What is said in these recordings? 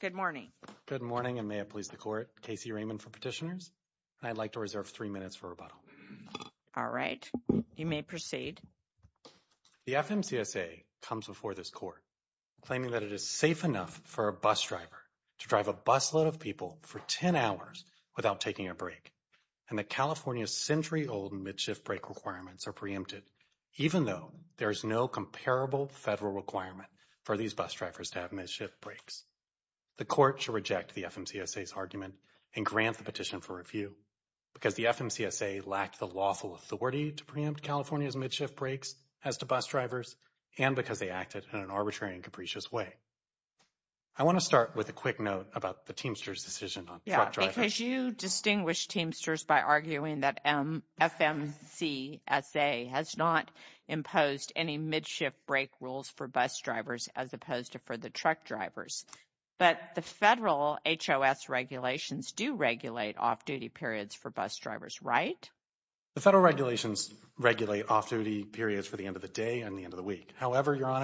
Good morning. Good morning, and may it please the Court, Casey Raymond for Petitioners. And I'd like to reserve three minutes for rebuttal. All right, you may proceed. The FMCSA comes before this Court claiming that it is safe enough for a bus driver to drive a busload of people for 10 hours without taking a break, and that California's century-old mid-shift break requirements are preempted, even though there is no comparable federal requirement for these bus drivers to have mid-shift breaks. The Court should reject the FMCSA's argument and grant the petition for review, because the FMCSA lacked the lawful authority to preempt California's mid-shift breaks as to bus drivers, and because they acted in an arbitrary and capricious way. I want to start with a quick note about the Teamsters' decision on truck drivers. Because you distinguished Teamsters by arguing that FMCSA has not imposed any mid-shift break rules for bus drivers as opposed to for the truck drivers. But the federal HOS regulations do regulate off-duty periods for bus drivers, right? The federal regulations regulate off-duty periods for the end of the day and the end of the week. So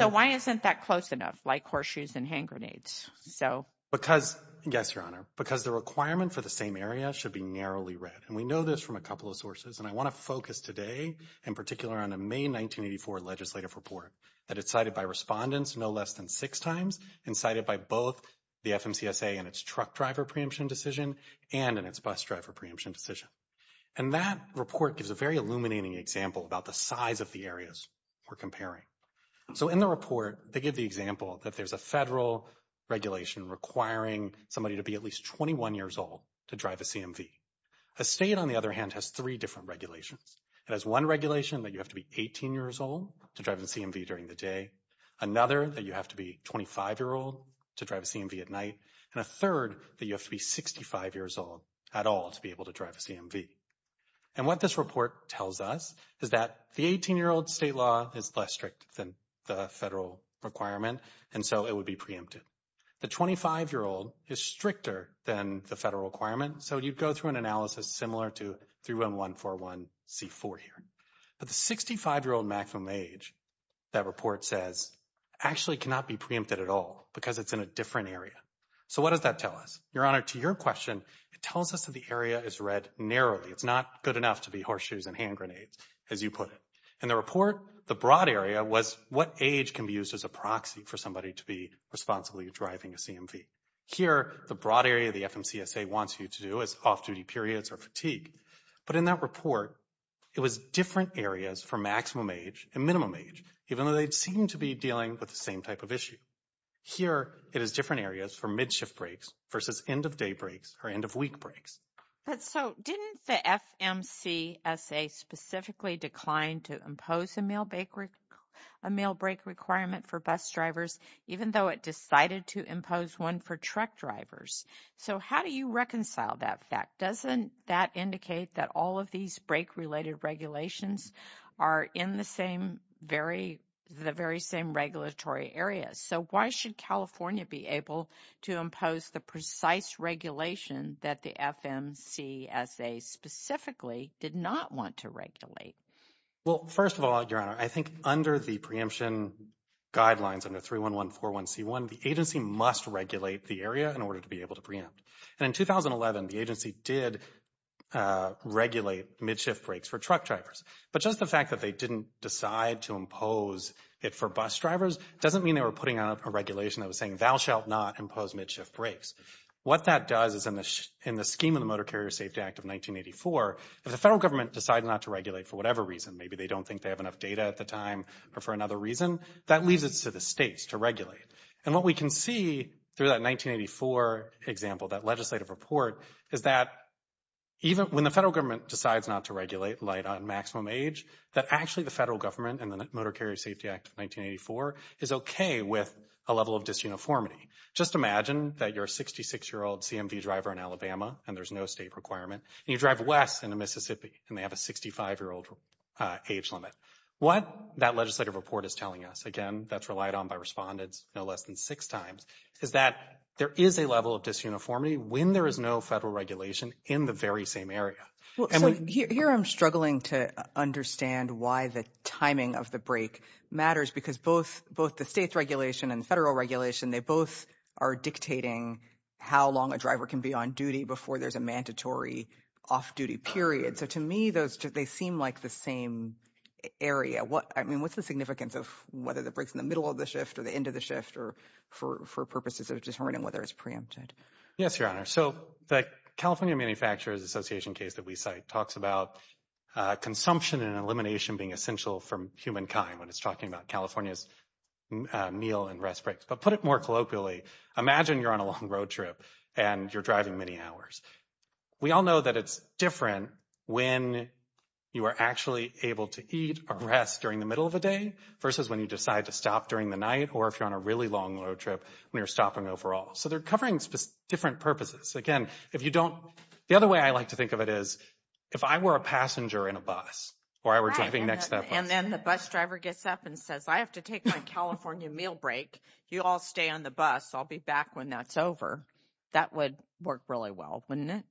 why isn't that close enough, like horseshoes and hand grenades? Yes, Your Honor, because the requirement for the same area should be narrowly read. And we know this from a couple of sources. And I want to focus today in particular on a May 1984 legislative report that is cited by respondents no less than six times and cited by both the FMCSA in its truck driver preemption decision and in its bus driver preemption decision. And that report gives a very illuminating example about the size of the areas we're comparing. So in the report, they give the example that there's a federal regulation requiring somebody to be at least 21 years old to drive a CMV. A state, on the other hand, has three different regulations. It has one regulation that you have to be 18 years old to drive a CMV during the day, another that you have to be 25 years old to drive a CMV at night, and a third that you have to be 65 years old at all to be able to drive a CMV. And what this report tells us is that the 18-year-old state law is less strict than the federal requirement, and so it would be preempted. The 25-year-old is stricter than the federal requirement, so you'd go through an analysis similar to 31141C4 here. But the 65-year-old maximum age, that report says, actually cannot be preempted at all because it's in a different area. So what does that tell us? Your Honor, to your question, it tells us that the area is read narrowly. It's not good enough to be horseshoes and hand grenades, as you put it. In the report, the broad area was what age can be used as a proxy for somebody to be responsibly driving a CMV. Here, the broad area the FMCSA wants you to do is off-duty periods or fatigue. But in that report, it was different areas for maximum age and minimum age, even though they seemed to be dealing with the same type of issue. Here, it is different areas for mid-shift breaks versus end-of-day breaks or end-of-week breaks. But so didn't the FMCSA specifically decline to impose a meal break requirement for bus drivers, even though it decided to impose one for truck drivers? So how do you reconcile that fact? Doesn't that indicate that all of these break-related regulations are in the very same regulatory areas? So why should California be able to impose the precise regulation that the FMCSA specifically did not want to regulate? Well, first of all, Your Honor, I think under the preemption guidelines, under 31141C1, the agency must regulate the area in order to be able to preempt. And in 2011, the agency did regulate mid-shift breaks for truck drivers. But just the fact that they didn't decide to impose it for bus drivers doesn't mean they were putting out a regulation that was saying, Thou shalt not impose mid-shift breaks. What that does is in the scheme of the Motor Carrier Safety Act of 1984, if the federal government decides not to regulate for whatever reason, maybe they don't think they have enough data at the time or for another reason, that leaves it to the states to regulate. And what we can see through that 1984 example, that legislative report, is that even when the federal government decides not to regulate light on maximum age, that actually the federal government and the Motor Carrier Safety Act of 1984 is okay with a level of disuniformity. Just imagine that you're a 66-year-old CMV driver in Alabama and there's no state requirement, and you drive west into Mississippi and they have a 65-year-old age limit. What that legislative report is telling us, again, that's relied on by respondents no less than six times, is that there is a level of disuniformity when there is no federal regulation in the very same area. Here I'm struggling to understand why the timing of the break matters, because both the state's regulation and the federal regulation, they both are dictating how long a driver can be on duty before there's a mandatory off-duty period. So to me, they seem like the same area. I mean, what's the significance of whether the break's in the middle of the shift or the end of the shift or for purposes of determining whether it's preempted? Yes, Your Honor. So the California Manufacturers Association case that we cite talks about consumption and elimination being essential for humankind when it's talking about California's meal and rest breaks. But put it more colloquially, imagine you're on a long road trip and you're driving many hours. We all know that it's different when you are actually able to eat or rest during the middle of the day versus when you decide to stop during the night or if you're on a really long road trip when you're stopping overall. So they're covering different purposes. Again, if you don't – the other way I like to think of it is if I were a passenger in a bus or I were driving next to that bus. And then the bus driver gets up and says, I have to take my California meal break. You all stay on the bus. I'll be back when that's over. That would work really well, wouldn't it?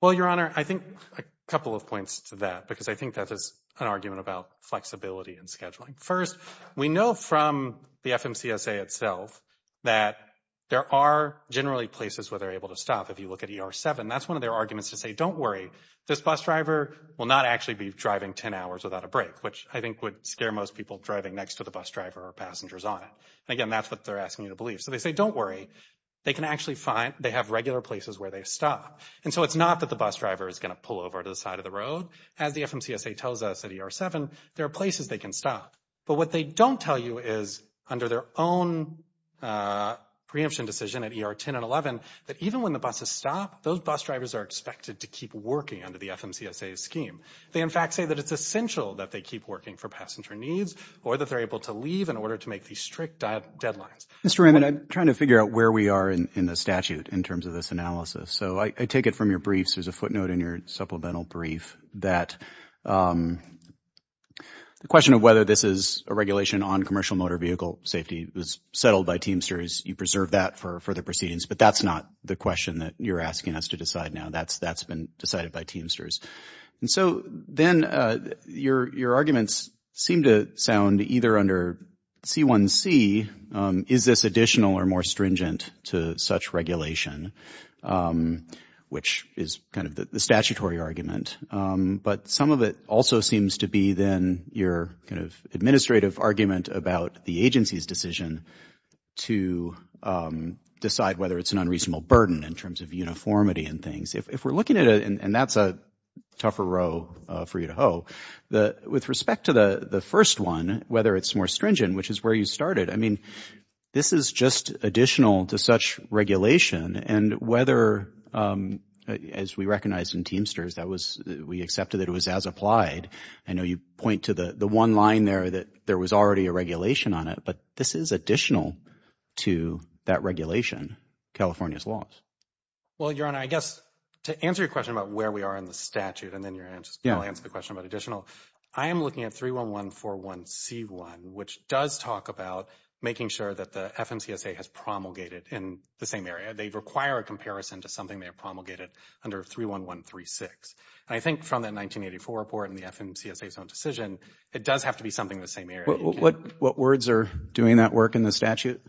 Well, Your Honor, I think a couple of points to that because I think that is an argument about flexibility and scheduling. First, we know from the FMCSA itself that there are generally places where they're able to stop. If you look at ER-7, that's one of their arguments to say, don't worry, this bus driver will not actually be driving 10 hours without a break, which I think would scare most people driving next to the bus driver or passengers on it. And again, that's what they're asking you to believe. So they say, don't worry, they can actually find – they have regular places where they stop. And so it's not that the bus driver is going to pull over to the side of the road. As the FMCSA tells us at ER-7, there are places they can stop. But what they don't tell you is, under their own preemption decision at ER-10 and 11, that even when the buses stop, those bus drivers are expected to keep working under the FMCSA's scheme. They, in fact, say that it's essential that they keep working for passenger needs or that they're able to leave in order to make these strict deadlines. Mr. Raymond, I'm trying to figure out where we are in the statute in terms of this analysis. So I take it from your briefs. There's a footnote in your supplemental brief that the question of whether this is a regulation on commercial motor vehicle safety was settled by Teamsters. You preserved that for further proceedings. But that's not the question that you're asking us to decide now. That's been decided by Teamsters. And so then your arguments seem to sound either under C1C, is this additional or more stringent to such regulation, which is kind of the statutory argument. But some of it also seems to be then your kind of administrative argument about the agency's decision to decide whether it's an unreasonable burden in terms of uniformity and things. If we're looking at it, and that's a tougher row for you to hoe, with respect to the first one, whether it's more stringent, which is where you started, I mean, this is just additional to such regulation. And whether, as we recognized in Teamsters, we accepted that it was as applied. I know you point to the one line there that there was already a regulation on it, but this is additional to that regulation, California's laws. Well, Your Honor, I guess to answer your question about where we are in the statute, and then your answer to the question about additional, I am looking at 31141C1, which does talk about making sure that the FMCSA has promulgated in the same area. They require a comparison to something they promulgated under 31136. And I think from that 1984 report and the FMCSA's own decision, it does have to be something in the same area. What words are doing that work in the statute?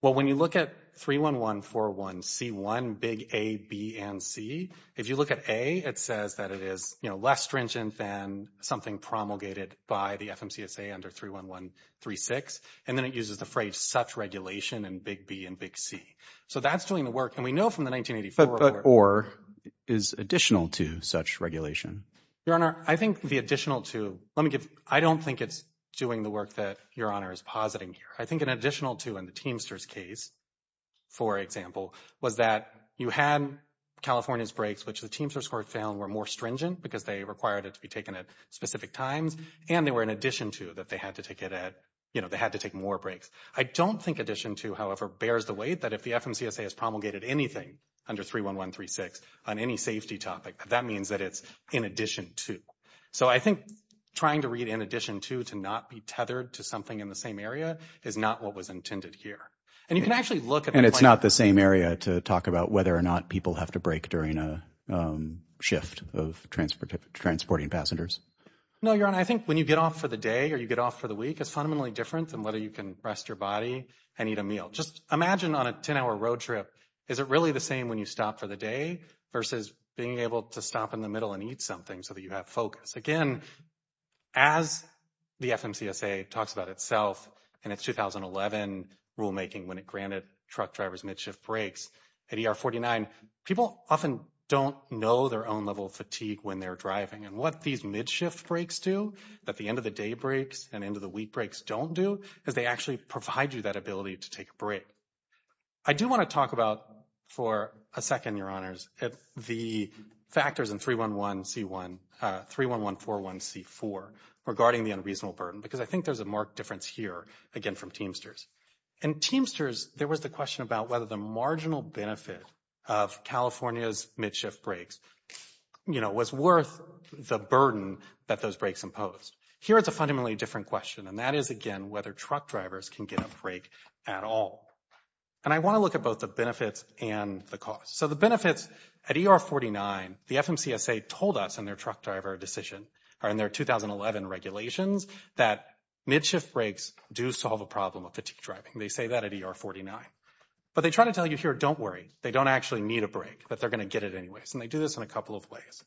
Well, when you look at 31141C1, big A, B, and C, if you look at A, it says that it is less stringent than something promulgated by the FMCSA under 31136, and then it uses the phrase such regulation and big B and big C. So that's doing the work, and we know from the 1984 report. But or is additional to such regulation. Your Honor, I think the additional to, let me give, I don't think it's doing the work that Your Honor is positing here. I think an additional to in the Teamsters case, for example, was that you had California's breaks, which the Teamsters court found were more stringent because they required it to be taken at specific times, and they were in addition to that they had to take it at, you know, they had to take more breaks. I don't think addition to, however, bears the weight that if the FMCSA has promulgated anything under 31136 on any safety topic, that means that it's in addition to. So I think trying to read in addition to to not be tethered to something in the same area is not what was intended here. And you can actually look at it. And it's not the same area to talk about whether or not people have to break during a shift of transporting passengers? No, Your Honor. I think when you get off for the day or you get off for the week, it's fundamentally different than whether you can rest your body and eat a meal. Just imagine on a 10-hour road trip, is it really the same when you stop for the day versus being able to stop in the middle and eat something so that you have focus? Again, as the FMCSA talks about itself in its 2011 rulemaking when it granted truck drivers mid-shift breaks at ER 49, people often don't know their own level of fatigue when they're driving. And what these mid-shift breaks do that the end-of-the-day breaks and end-of-the-week breaks don't do is they actually provide you that ability to take a break. I do want to talk about, for a second, Your Honors, the factors in 31141C4 regarding the unreasonable burden because I think there's a marked difference here, again, from Teamsters. In Teamsters, there was the question about whether the marginal benefit of California's mid-shift breaks was worth the burden that those breaks imposed. Here it's a fundamentally different question, and that is, again, whether truck drivers can get a break at all. And I want to look at both the benefits and the costs. So the benefits at ER 49, the FMCSA told us in their truck driver decision, or in their 2011 regulations, that mid-shift breaks do solve a problem of fatigue driving. They say that at ER 49. But they try to tell you here, don't worry. They don't actually need a break, but they're going to get it anyways. And they do this in a couple of ways.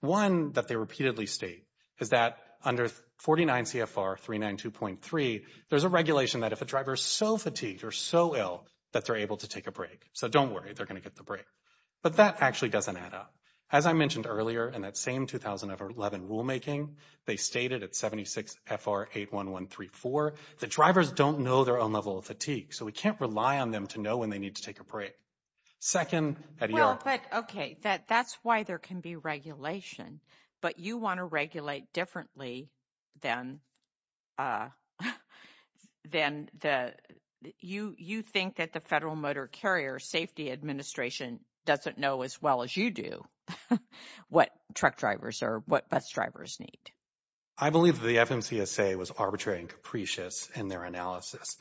One, that they repeatedly state, is that under 49 CFR 392.3, there's a regulation that if a driver is so fatigued or so ill that they're able to take a break. So don't worry. They're going to get the break. But that actually doesn't add up. As I mentioned earlier in that same 2011 rulemaking, they stated at 76 FR 81134, that drivers don't know their own level of fatigue, so we can't rely on them to know when they need to take a break. Second, at ER. Well, but, okay, that's why there can be regulation. But you want to regulate differently than you think that the Federal Motor Carrier Safety Administration doesn't know as well as you do what truck drivers or what bus drivers need. I believe that the FMCSA was arbitrary and capricious in their analysis.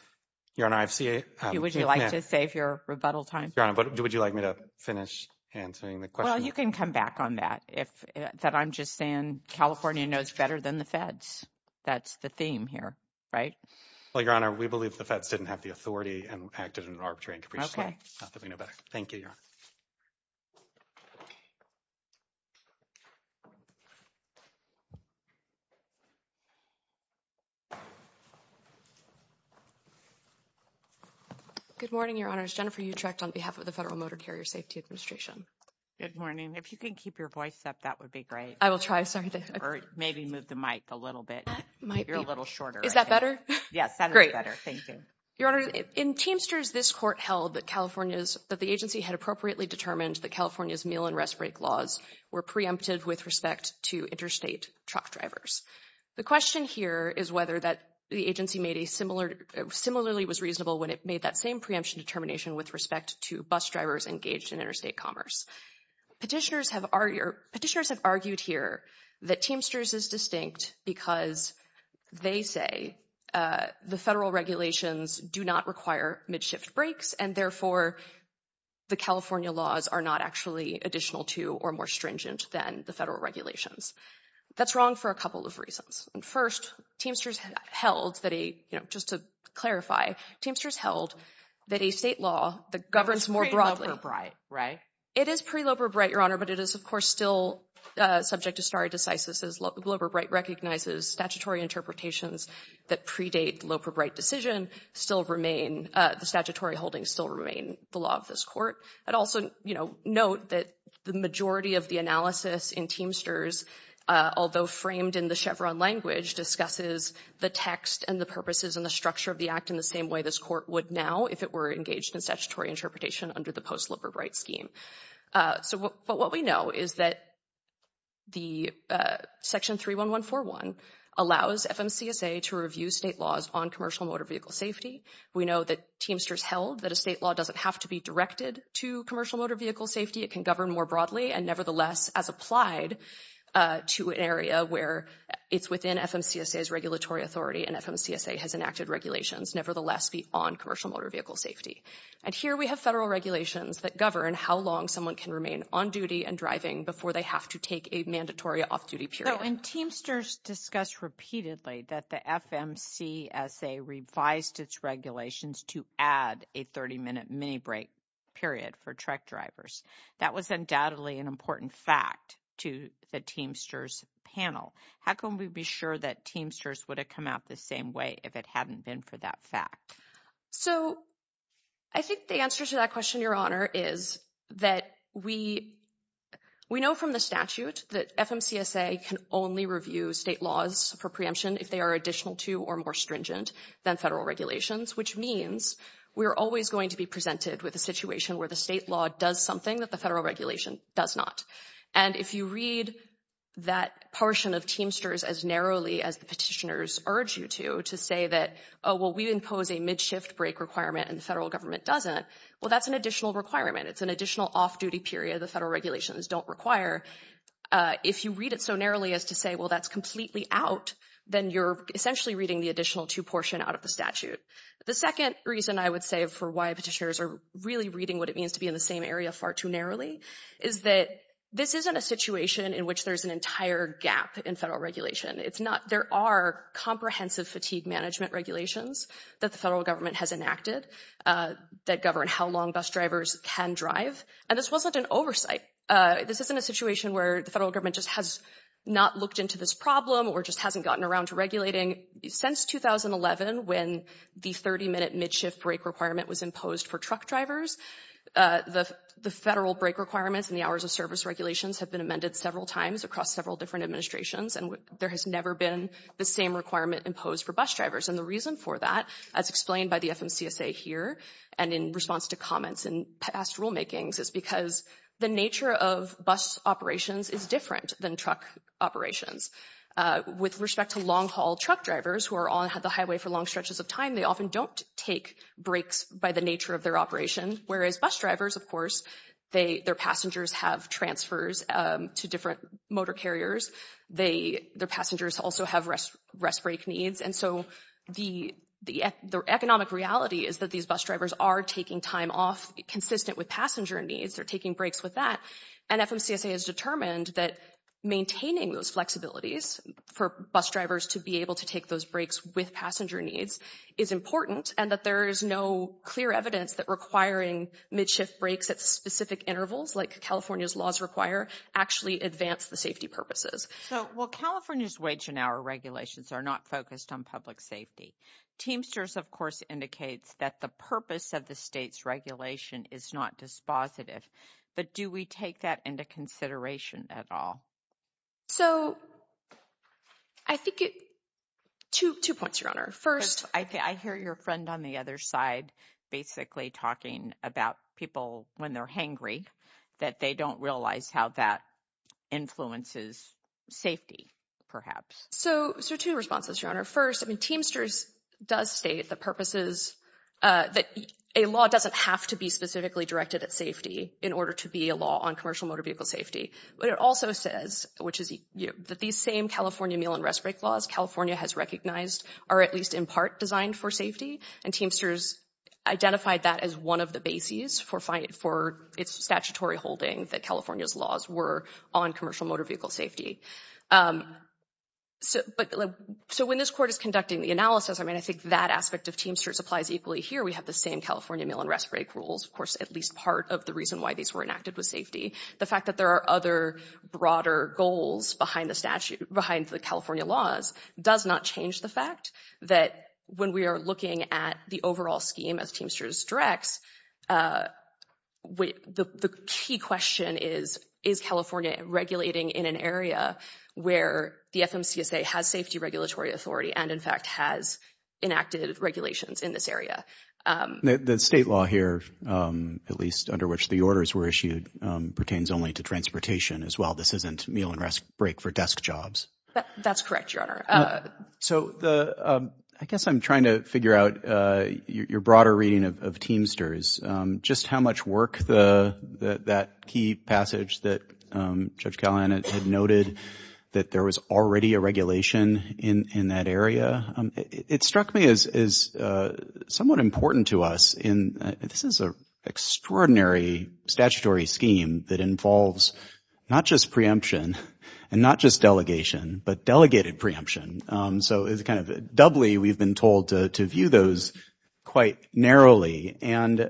Your Honor, I've seen it. Would you like to save your rebuttal time? Your Honor, would you like me to finish answering the question? Well, you can come back on that. That I'm just saying California knows better than the Feds. That's the theme here, right? Well, Your Honor, we believe the Feds didn't have the authority and acted in an arbitrary and capricious way. Not that we know better. Thank you, Your Honor. Good morning, Your Honors. Jennifer Utrecht on behalf of the Federal Motor Carrier Safety Administration. Good morning. If you can keep your voice up, that would be great. I will try. Or maybe move the mic a little bit. You're a little shorter. Is that better? Yes, that is better. Thank you. Your Honor, in Teamsters, this court held that the agency had appropriately determined that California's meal and rest break laws were preemptive with respect to interstate truck drivers. The question here is whether the agency similarly was reasonable when it made that same preemption determination with respect to bus drivers engaged in interstate commerce. Petitioners have argued here that Teamsters is distinct because they say the federal regulations do not require mid-shift breaks and therefore the California laws are not actually additional to or more stringent than the federal regulations. That's wrong for a couple of reasons. First, Teamsters held, just to clarify, Teamsters held that a state law that governs more broadly… It's pre-Loper-Bright, right? It is pre-Loper-Bright, Your Honor, but it is, of course, still subject to stare decisis. Loper-Bright recognizes statutory interpretations that predate Loper-Bright decision still remain, the statutory holdings still remain the law of this court. I'd also note that the majority of the analysis in Teamsters, although framed in the Chevron language, discusses the text and the purposes and the structure of the act in the same way this court would now if it were engaged in statutory interpretation under the post-Loper-Bright scheme. But what we know is that Section 31141 allows FMCSA to review state laws on commercial motor vehicle safety. We know that Teamsters held that a state law doesn't have to be directed to commercial motor vehicle safety. It can govern more broadly and nevertheless as applied to an area where it's within FMCSA's regulatory authority and FMCSA has enacted regulations nevertheless be on commercial motor vehicle safety. And here we have federal regulations that govern how long someone can remain on duty and driving before they have to take a mandatory off-duty period. Now when Teamsters discussed repeatedly that the FMCSA revised its regulations to add a 30-minute mini-break period for truck drivers, that was undoubtedly an important fact to the Teamsters panel. How can we be sure that Teamsters would have come out the same way if it hadn't been for that fact? So I think the answer to that question, Your Honor, is that we know from the statute that FMCSA can only review state laws for preemption if they are additional to or more stringent than federal regulations, which means we're always going to be presented with a situation where the state law does something that the federal regulation does not. And if you read that portion of Teamsters as narrowly as the petitioners urge you to, to say that, oh, well, we impose a mid-shift break requirement and the federal government doesn't, well, that's an additional requirement. It's an additional off-duty period the federal regulations don't require. If you read it so narrowly as to say, well, that's completely out, then you're essentially reading the additional to portion out of the statute. The second reason I would say for why petitioners are really reading what it means to be in the same area far too narrowly is that this isn't a situation in which there's an entire gap in federal regulation. There are comprehensive fatigue management regulations that the federal government has enacted that govern how long bus drivers can drive. And this wasn't an oversight. This isn't a situation where the federal government just has not looked into this problem or just hasn't gotten around to regulating. Since 2011, when the 30-minute mid-shift break requirement was imposed for truck drivers, the federal break requirements and the hours of service regulations have been amended several times across several different administrations, and there has never been the same requirement imposed for bus drivers. And the reason for that, as explained by the FMCSA here and in response to comments in past rulemakings, is because the nature of bus operations is different than truck operations. With respect to long-haul truck drivers who are on the highway for long stretches of time, they often don't take breaks by the nature of their operation, whereas bus drivers, of course, their passengers have transfers to different motor carriers. Their passengers also have rest break needs. And so the economic reality is that these bus drivers are taking time off consistent with passenger needs. They're taking breaks with that. And FMCSA has determined that maintaining those flexibilities for bus drivers to be able to take those breaks with passenger needs is important and that there is no clear evidence that requiring mid-shift breaks at specific intervals, like California's laws require, actually advance the safety purposes. Well, California's wage and hour regulations are not focused on public safety. Teamsters, of course, indicates that the purpose of the state's regulation is not dispositive. But do we take that into consideration at all? So I think it – two points, Your Honor. First, I hear your friend on the other side basically talking about people when they're hangry, that they don't realize how that influences safety, perhaps. So two responses, Your Honor. First, I mean, Teamsters does state the purposes that a law doesn't have to be specifically directed at safety in order to be a law on commercial motor vehicle safety. But it also says, which is that these same California meal and rest break laws California has recognized are at least in part designed for safety. And Teamsters identified that as one of the bases for its statutory holding that California's laws were on commercial motor vehicle safety. So when this Court is conducting the analysis, I mean, I think that aspect of Teamsters applies equally here. We have the same California meal and rest break rules, of course, at least part of the reason why these were enacted was safety. The fact that there are other broader goals behind the California laws does not change the fact that when we are looking at the overall scheme as Teamsters directs, the key question is, is California regulating in an area where the FMCSA has safety regulatory authority and, in fact, has enacted regulations in this area? The state law here, at least under which the orders were issued, pertains only to transportation as well. This isn't meal and rest break for desk jobs. That's correct, Your Honor. So I guess I'm trying to figure out your broader reading of Teamsters, just how much work that key passage that Judge Callahan had noted that there was already a regulation in that area. It struck me as somewhat important to us. This is an extraordinary statutory scheme that involves not just preemption and not just delegation, but delegated preemption. So it's kind of doubly we've been told to view those quite narrowly. And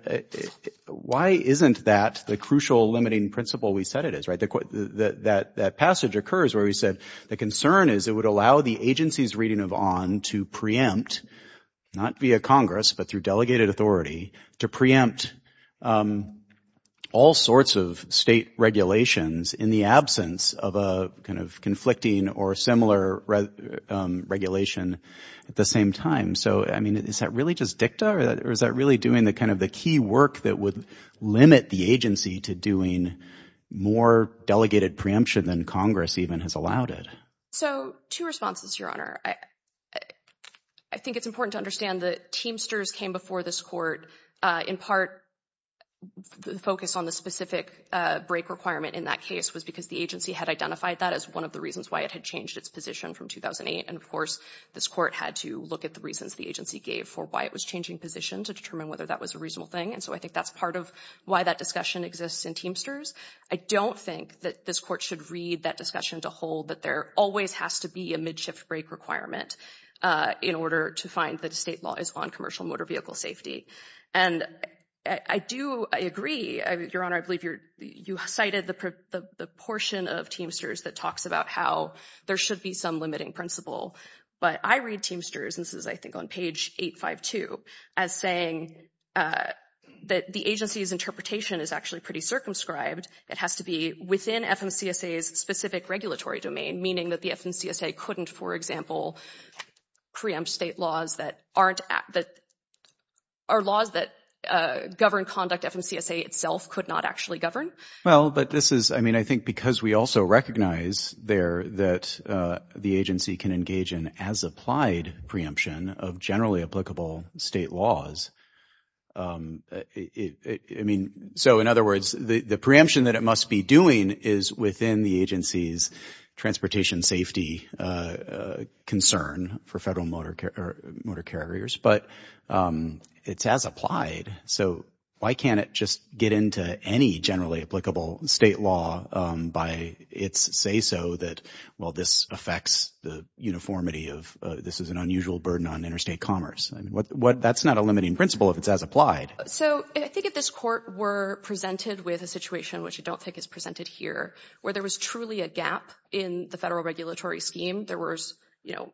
why isn't that the crucial limiting principle we said it is? That passage occurs where we said the concern is it would allow the agency's reading of ON to preempt, not via Congress but through delegated authority, to preempt all sorts of state regulations in the absence of a kind of conflicting or similar regulation at the same time. So, I mean, is that really just dicta or is that really doing the kind of the key work that would limit the agency to doing more delegated preemption than Congress even has allowed it? So two responses, Your Honor. I think it's important to understand that Teamsters came before this court in part focused on the specific break requirement in that case was because the agency had identified that as one of the reasons why it had changed its position from 2008. And, of course, this court had to look at the reasons the agency gave for why it was changing position to determine whether that was a reasonable thing. And so I think that's part of why that discussion exists in Teamsters. I don't think that this court should read that discussion to hold that there always has to be a mid-shift break requirement in order to find that a state law is on commercial motor vehicle safety. And I do agree, Your Honor. I believe you cited the portion of Teamsters that talks about how there should be some limiting principle. But I read Teamsters, and this is I think on page 852, as saying that the agency's interpretation is actually pretty circumscribed. It has to be within FMCSA's specific regulatory domain, meaning that the FMCSA couldn't, for example, preempt state laws that are laws that govern conduct FMCSA itself could not actually govern. Well, but this is, I mean, I think because we also recognize there that the agency can engage in as applied preemption of generally applicable state laws. I mean, so in other words, the preemption that it must be doing is within the agency's transportation safety concern for federal motor carriers, but it's as applied. So why can't it just get into any generally applicable state law by its say-so that, well, this affects the uniformity of this is an unusual burden on interstate commerce? I mean, that's not a limiting principle if it's as applied. So I think if this court were presented with a situation, which I don't think is presented here, where there was truly a gap in the federal regulatory scheme, there was, you know,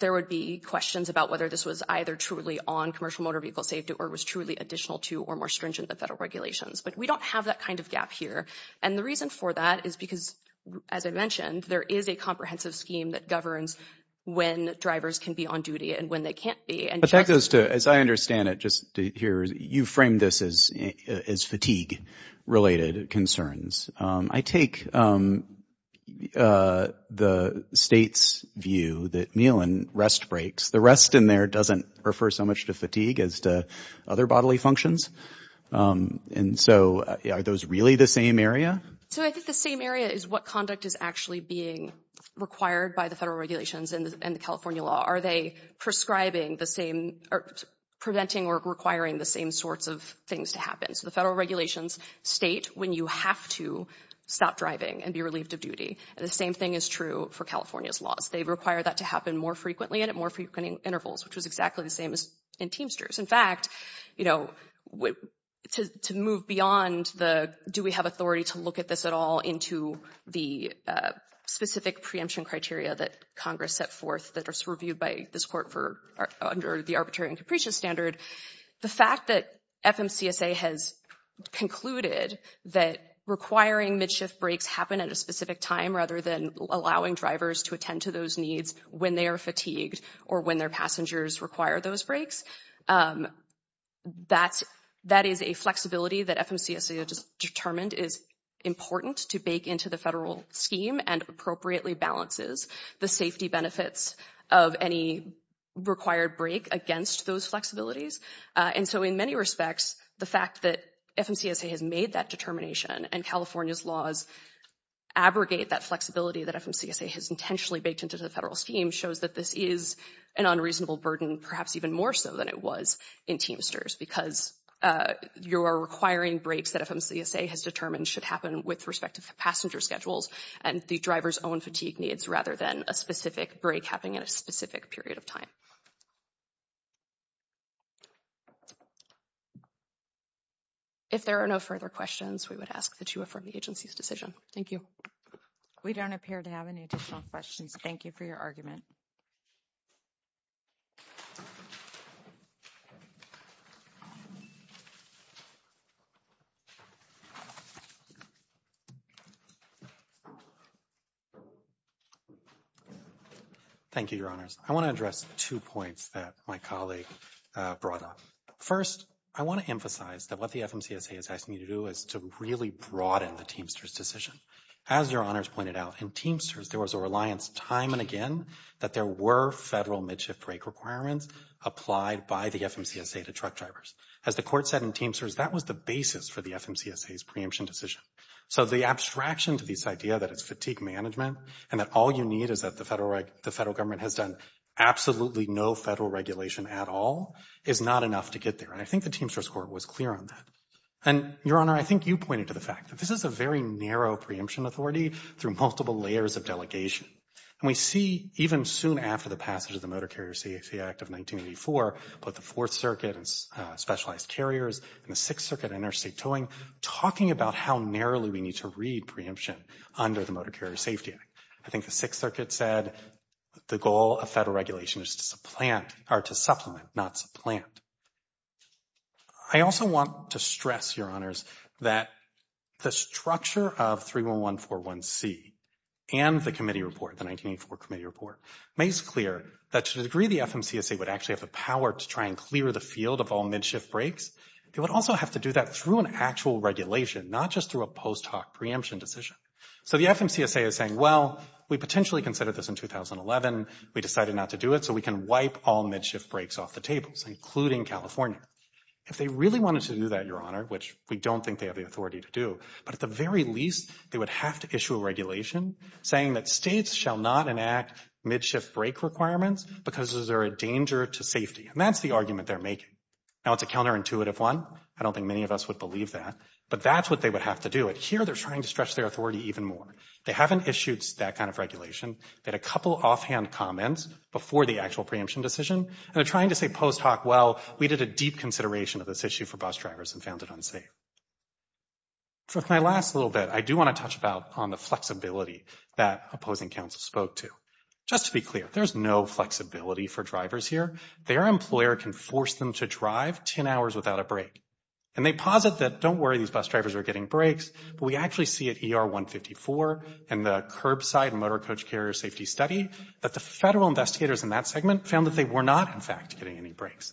there would be questions about whether this was either truly on commercial motor vehicle safety or was truly additional to or more stringent than federal regulations. But we don't have that kind of gap here. And the reason for that is because, as I mentioned, there is a comprehensive scheme that governs when drivers can be on duty and when they can't be. But that goes to, as I understand it, just to hear you frame this as fatigue-related concerns. I take the state's view that meal and rest breaks. The rest in there doesn't refer so much to fatigue as to other bodily functions. And so are those really the same area? So I think the same area is what conduct is actually being required by the federal regulations and the California law. Are they prescribing the same or preventing or requiring the same sorts of things to happen? So the federal regulations state when you have to stop driving and be relieved of duty. And the same thing is true for California's laws. They require that to happen more frequently and at more frequent intervals, which is exactly the same as in Teamsters. In fact, you know, to move beyond the do we have authority to look at this at all into the specific preemption criteria that Congress set forth that are reviewed by this court under the arbitrary and capricious standard. The fact that FMCSA has concluded that requiring mid-shift breaks happen at a specific time rather than allowing drivers to attend to those needs when they are fatigued or when their passengers require those breaks, that is a flexibility that FMCSA has determined is important to bake into the federal scheme and appropriately balances the safety benefits of any required break against those flexibilities. And so in many respects, the fact that FMCSA has made that determination and California's laws abrogate that flexibility that FMCSA has intentionally baked into the federal scheme shows that this is an unreasonable burden, perhaps even more so than it was in Teamsters because your requiring breaks that FMCSA has determined should happen with respect to passenger schedules and the driver's own fatigue needs rather than a specific break happening at a specific period of time. If there are no further questions, we would ask that you affirm the agency's decision. Thank you. We don't appear to have any additional questions. Thank you for your argument. Thank you, Your Honors. I want to address two points that my colleague brought up. First, I want to emphasize that what the FMCSA is asking you to do is to really broaden the Teamsters decision. As Your Honors pointed out, in Teamsters there was a reliance time and again that there were federal mid-shift break requirements applied by the FMCSA to truck drivers. As the Court said in Teamsters, that was the basis for the FMCSA's preemption decision. So the abstraction to this idea that it's fatigue management and that all you need is that the federal government has done absolutely no federal regulation at all is not enough to get there. And I think the Teamsters Court was clear on that. And, Your Honor, I think you pointed to the fact that this is a very narrow preemption authority through multiple layers of delegation. And we see, even soon after the passage of the Motor Carrier Safety Act of 1984, both the Fourth Circuit and specialized carriers and the Sixth Circuit interstate towing talking about how narrowly we need to read preemption under the Motor Carrier Safety Act. I think the Sixth Circuit said the goal of federal regulation is to supplant, or to supplement, not supplant. I also want to stress, Your Honors, that the structure of 31141C and the committee report, the 1984 committee report, makes clear that to the degree the FMCSA would actually have the power to try and clear the field of all mid-shift breaks, they would also have to do that through an actual regulation, not just through a post hoc preemption decision. So the FMCSA is saying, well, we potentially considered this in 2011. We decided not to do it, so we can wipe all mid-shift breaks off the tables, including California. If they really wanted to do that, Your Honor, which we don't think they have the authority to do, but at the very least they would have to issue a regulation saying that states shall not enact mid-shift break requirements because they're a danger to safety. And that's the argument they're making. Now, it's a counterintuitive one. I don't think many of us would believe that, but that's what they would have to do. Here, they're trying to stretch their authority even more. They haven't issued that kind of regulation. They had a couple offhand comments before the actual preemption decision, and they're trying to say post hoc, well, we did a deep consideration of this issue for bus drivers and found it unsafe. For my last little bit, I do want to touch about on the flexibility that opposing counsel spoke to. Just to be clear, there's no flexibility for drivers here. Their employer can force them to drive 10 hours without a break. And they posit that, don't worry, these bus drivers are getting breaks, but we actually see at ER 154 and the curbside and motor coach carrier safety study that the federal investigators in that segment found that they were not, in fact, getting any breaks.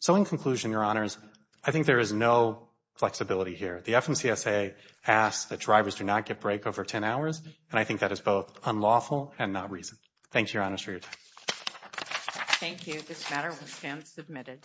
So in conclusion, Your Honors, I think there is no flexibility here. The FMCSA asks that drivers do not get break over 10 hours, and I think that is both unlawful and not reason. Thank you, Your Honors, for your time. Thank you. This matter will stand submitted.